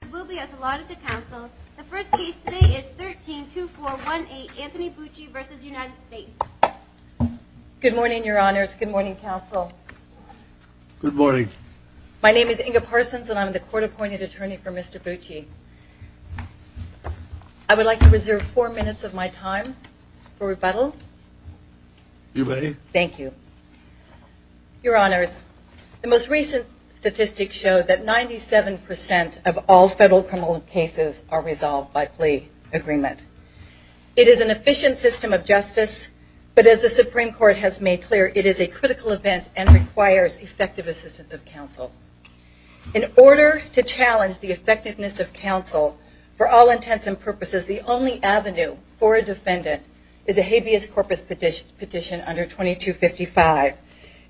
Good morning, your honors. Good morning, counsel. Good morning. My name is Inga Parsons and I'm the court-appointed attorney for Mr. Bucci. I would like to reserve four minutes of my time for rebuttal. You may. Thank you. Your honors, the most recent statistics show that all federal criminal cases are resolved by plea agreement. It is an efficient system of justice, but as the Supreme Court has made clear, it is a critical event and requires effective assistance of counsel. In order to challenge the effectiveness of counsel for all intents and purposes, the only avenue for a defendant is a habeas corpus petition under 2255.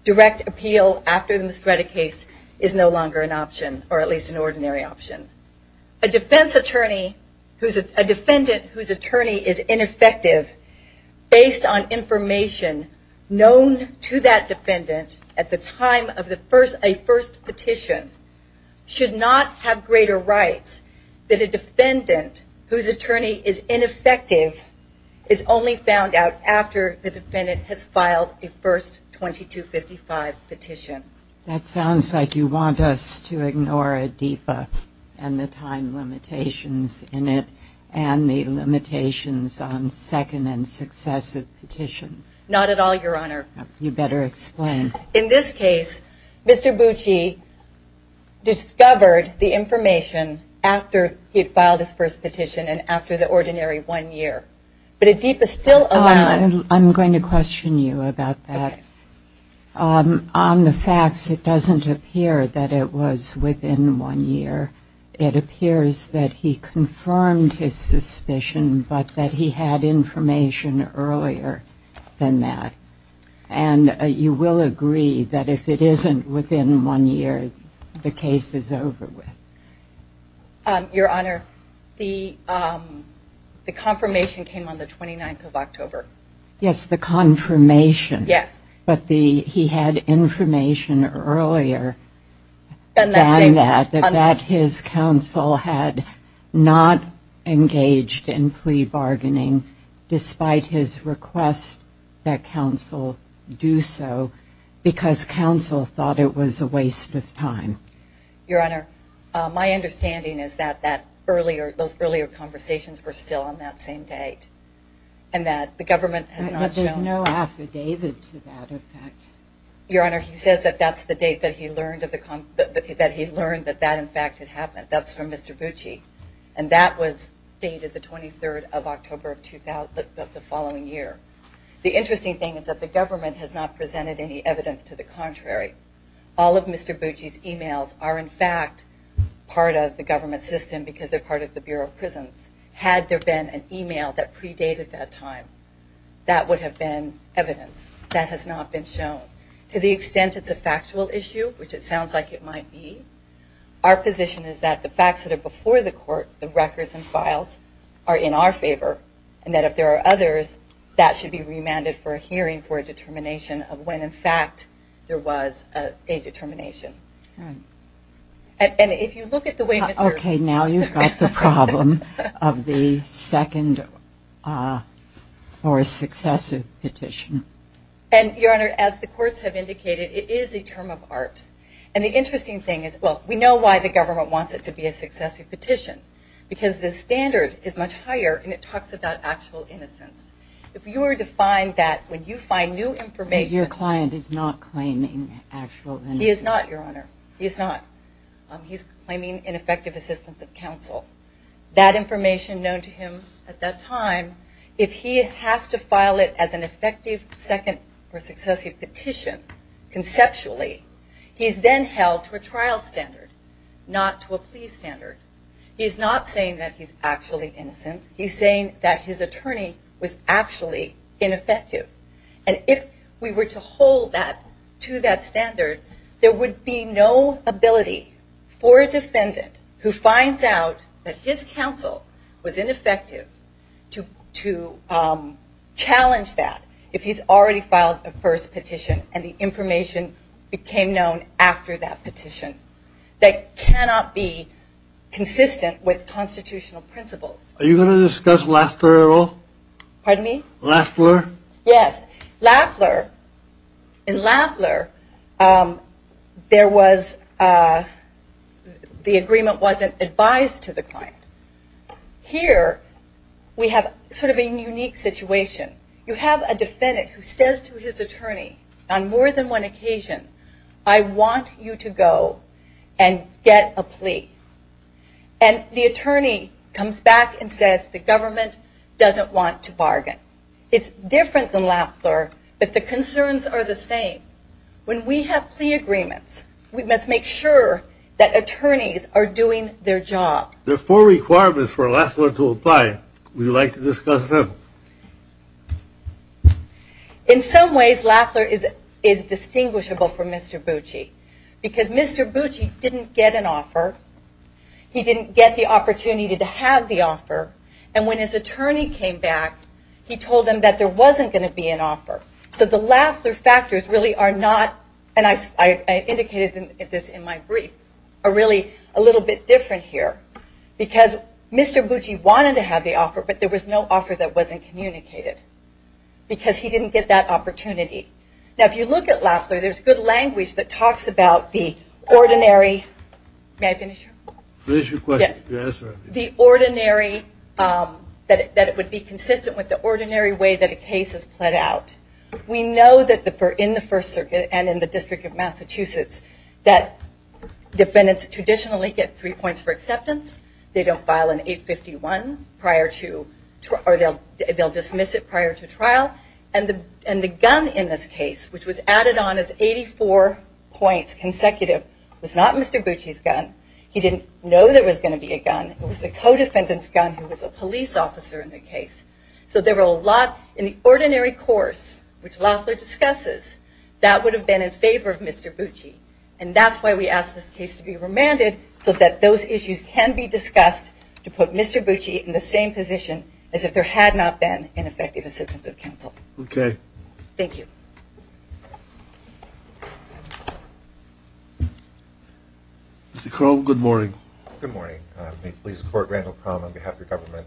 Direct appeal after the misdreaded case is no longer an option, or at least an ordinary option. A defendant whose attorney is ineffective based on information known to that defendant at the time of a first petition should not have greater rights than a defendant whose attorney is ineffective is only found out after the defendant has filed a first 2255 petition. That sounds like you want us to ignore ADEFA and the time limitations in it and the limitations on second and successive petitions. Not at all, your honor. You better explain. In this case, Mr. Bucci discovered the information after he had filed his first petition and after the ordinary one year. But ADEFA still allows... I'm going to question you about that. On the facts, it doesn't appear that it was within one year. It appears that he confirmed his suspicion, but that he had information earlier than that. And you will agree that if it isn't within one year, the case is over with. Your honor, the confirmation came on the 29th of October. Yes, the confirmation. Yes. But he had information earlier than that, that his counsel had not engaged in plea bargaining despite his request that counsel do so because counsel thought it was a waste of time. Your honor, my understanding is that those earlier conversations were still on that same date and that the government had not shown... But there's no affidavit to that, in fact. Your honor, he says that that's the date that he learned that that, in fact, had happened. That's from Mr. Bucci. And that was dated the 23rd of October of the following year. The interesting thing is that the government has not presented any evidence to the contrary. All of Mr. Bucci's emails are, in fact, part of the government system because they're part of the Bureau of Prisons. Had there been an email that predated that time, that would have been evidence. That has not been shown. To the extent it's a factual issue, which it sounds like it might be, our position is that the facts that are before the court, the of when, in fact, there was a determination. And if you look at the way... Okay, now you've got the problem of the second or successive petition. And, your honor, as the courts have indicated, it is a term of art. And the interesting thing is, well, we know why the government wants it to be a successive petition. Because the standard is much higher and it talks about actual innocence. If you were to find that when you find new information... Your client is not claiming actual innocence. He is not, your honor. He's not. He's claiming ineffective assistance of counsel. That information known to him at that time, if he has to file it as an effective second or successive petition, conceptually, he's then held to a trial standard, not to a plea standard. He's not saying that he's actually innocent. He's saying that his attorney was actually ineffective. And if we were to hold that to that standard, there would be no ability for a defendant who finds out that his counsel was ineffective to challenge that if he's already filed a first petition and the information became known after that petition. That cannot be consistent with constitutional principles. Are you going to discuss Laffler at all? Pardon me? Laffler? Yes. Laffler. In Laffler, there was... the agreement wasn't advised to the client. Here, we have sort of a unique situation. You have a defendant who says to his attorney on more than one occasion, I want you to go and get a lawyer, and says the government doesn't want to bargain. It's different than Laffler, but the concerns are the same. When we have plea agreements, we must make sure that attorneys are doing their job. There are four requirements for Laffler to apply. Would you like to discuss them? In some ways, Laffler is distinguishable from Mr. Bucci. Because Mr. Bucci didn't get an offer. He didn't get the opportunity to have the offer. And when his attorney came back, he told him that there wasn't going to be an offer. So the Laffler factors really are not, and I indicated this in my brief, are really a little bit different here. Because Mr. Bucci wanted to have the offer, but there was no offer that wasn't communicated. Because he didn't get that opportunity. Now, if you look at Laffler, there's good language that talks about the ordinary way that a case is plead out. We know that in the First Circuit and in the District of Massachusetts, that defendants traditionally get three points for acceptance. They don't file an 851 prior to, or they'll dismiss it prior to that. But the gun in this case, which was added on as 84 points consecutive, was not Mr. Bucci's gun. He didn't know there was going to be a gun. It was the co-defendant's gun, who was a police officer in the case. So there were a lot in the ordinary course, which Laffler discusses, that would have been in favor of Mr. Bucci. And that's why we ask this case to be remanded, so that those issues can be discussed to put Mr. Bucci in the same position as if there had not been an effective assistance of counsel. Okay. Thank you. Mr. Cromb, good morning. Good morning. May it please the Court, Randall Cromb on behalf of the government.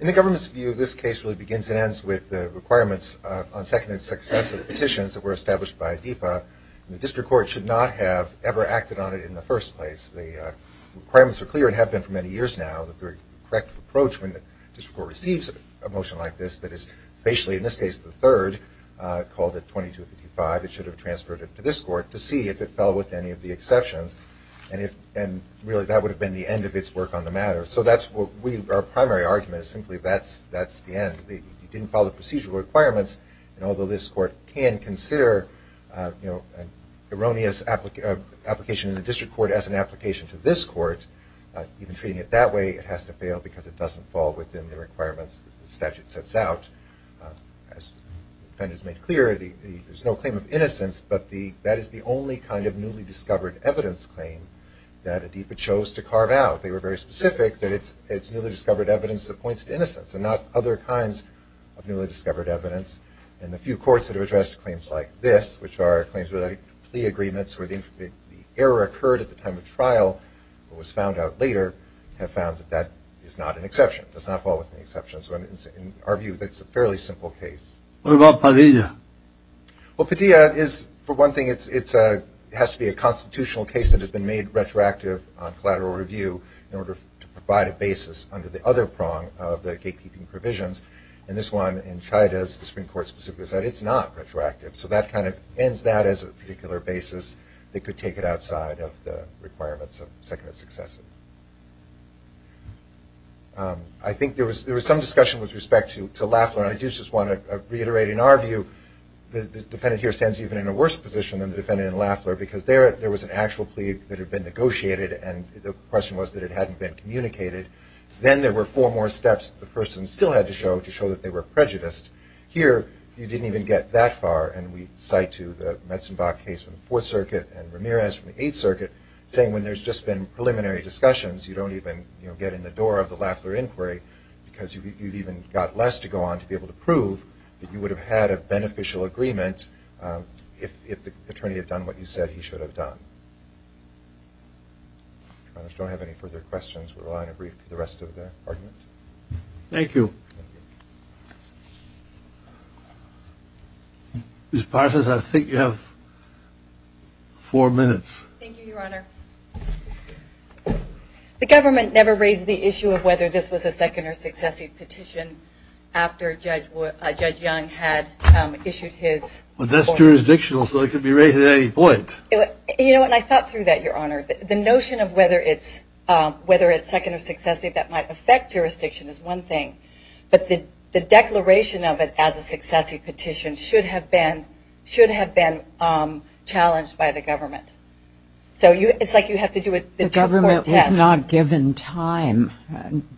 In the government's view, this case really begins and ends with the requirements on second and successive petitions that were established by ADEPA. The District Court should not have ever acted on it in the first place. The District Court receives a motion like this that is facially, in this case the third, called it 2255. It should have transferred it to this Court to see if it fell with any of the exceptions. And really, that would have been the end of its work on the matter. So that's what our primary argument is, simply that's the end. It didn't follow the procedural requirements. And although this Court can consider an erroneous application in the District Court as an application to this Court, even treating it that way, it has to fail because it doesn't fall within the requirements that the statute sets out. As the defendant has made clear, there's no claim of innocence, but that is the only kind of newly discovered evidence claim that ADEPA chose to carve out. They were very specific that it's newly discovered evidence that points to innocence and not other kinds of newly discovered evidence. And the few courts that have addressed claims like this, which are claims related to plea agreements where the error occurred at the time of trial, but was found out later, have found that that is not an exception, does not fall within the exceptions. So in our view, that's a fairly simple case. What about Padilla? Well, Padilla is, for one thing, it has to be a constitutional case that has been made retroactive on collateral review in order to provide a basis under the other prong of the gatekeeping provisions. And this one, in Chayadez, the Supreme Court specifically said it's not retroactive. So that kind of ends that as a particular basis that could take it outside of the requirements of Seconded Successive. I think there was some discussion with respect to Lafler, and I do just want to reiterate, in our view, the defendant here stands even in a worse position than the defendant in Lafler because there was an actual plea that had been negotiated, and the question was that it hadn't been communicated. Then there were four more steps the person still had to show to show that they were prejudiced. Here, you didn't even get that far, and we cite to the Metzenbach case from the Fourth Circuit and Ramirez from the Eighth Circuit, saying when there's just been preliminary discussions, you don't even get in the door of the Lafler inquiry because you've even got less to go on to be able to prove that you would have had a beneficial agreement if the attorney had done what you said he should have done. Your Honor, if you don't have any further questions, we're allowing a brief for the rest of the argument. Thank you. Ms. Parsons, I think you have four minutes. Thank you, Your Honor. The government never raised the issue of whether this was a Second or Successive petition after Judge Young had issued his I thought through that, Your Honor. The notion of whether it's Second or Successive that might affect jurisdiction is one thing, but the declaration of it as a Successive petition should have been challenged by the government. So it's like you have to do a two-part test. It was not given time.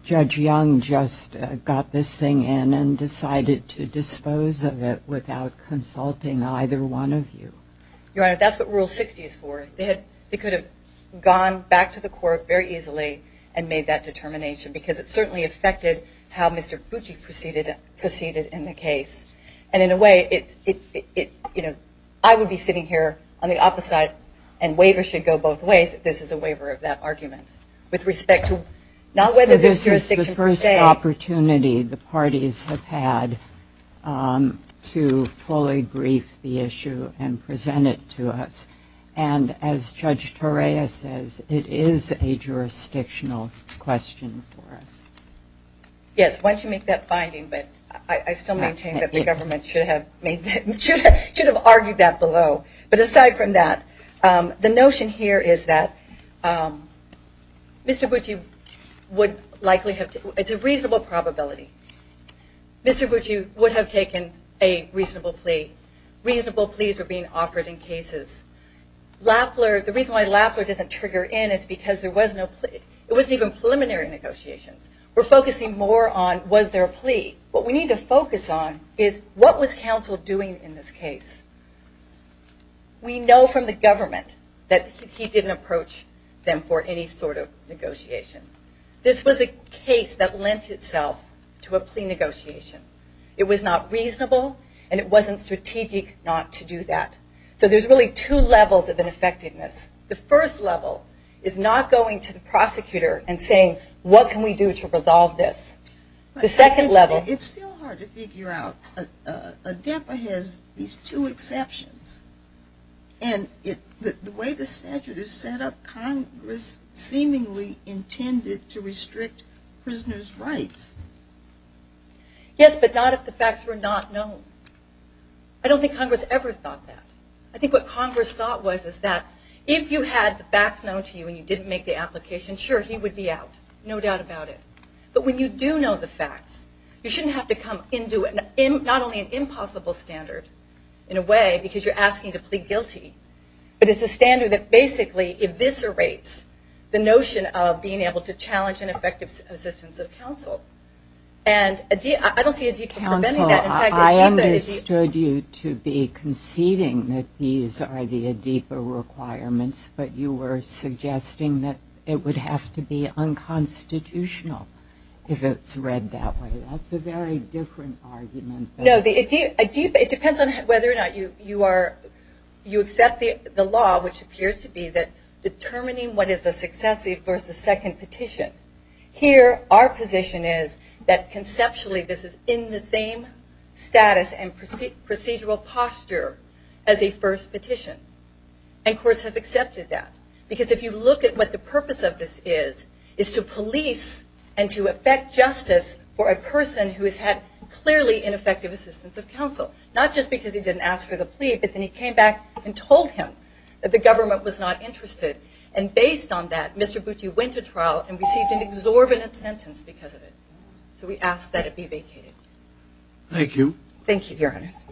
Judge Young just got this thing in and decided to dispose of it without consulting either one of you. Your Honor, that's what Rule 60 is for. They could have gone back to the court very easily and made that determination because it certainly affected how Mr. Bucci proceeded in the case. And in a way, I would be sitting here on the opposite side and waivers should go both ways if this is a waiver of that So this is the first opportunity the parties have had to fully brief the issue and present it to us. And as Judge Torea says, it is a jurisdictional question for us. Yes. Why don't you make that finding? But I still maintain that the government should have argued that below. But aside from that, the Mr. Bucci would likely have taken, it's a reasonable probability, Mr. Bucci would have taken a reasonable plea. Reasonable pleas were being offered in cases. Lafler, the reason why Lafler doesn't trigger in is because there was no plea. It wasn't even preliminary negotiations. We're focusing more on was there a plea. What we need to focus on is what was counsel doing in this case? We know from the government that he didn't approach them for any sort of negotiation. This was a case that lent itself to a plea negotiation. It was not reasonable and it wasn't strategic not to do that. So there's really two levels of ineffectiveness. The first level is not going to the prosecutor and saying, what can we do to resolve this? The second level. It's still hard to figure out. ADEPA has these two exceptions. And the way the statute is set up, the way the statute is set up, Congress seemingly intended to restrict prisoners' rights. Yes, but not if the facts were not known. I don't think Congress ever thought that. I think what Congress thought was that if you had the facts known to you and you didn't make the application, sure, he would be out. No doubt about it. But when you do know the facts, you shouldn't have to come and do it. Not only an impossible standard, in a way, because you're asking to plead guilty, but it's a standard that basically eviscerates the notion of being able to challenge an effective assistance of counsel. And I don't see ADEPA preventing that. I understood you to be conceding that these are the ADEPA requirements, but you were suggesting that it would have to be unconstitutional if it's read that way. That's a very different argument. No, it depends on whether or not you are, you accept the law, which appears to be that determining what is a successive versus second petition. Here, our position is that conceptually this is in the same status and procedural posture as a first petition. And courts have accepted that. Because if you look at what the purpose of this is, is to police and to effect justice for a person who has had clearly ineffective assistance of counsel. Not just because he didn't ask for the plea, but then he came back and told him that the government was not interested. And based on that, Mr. Butte went to trial and received an exorbitant sentence because of it. So we ask that it be vacated. Thank you. Thank you, Your Honors.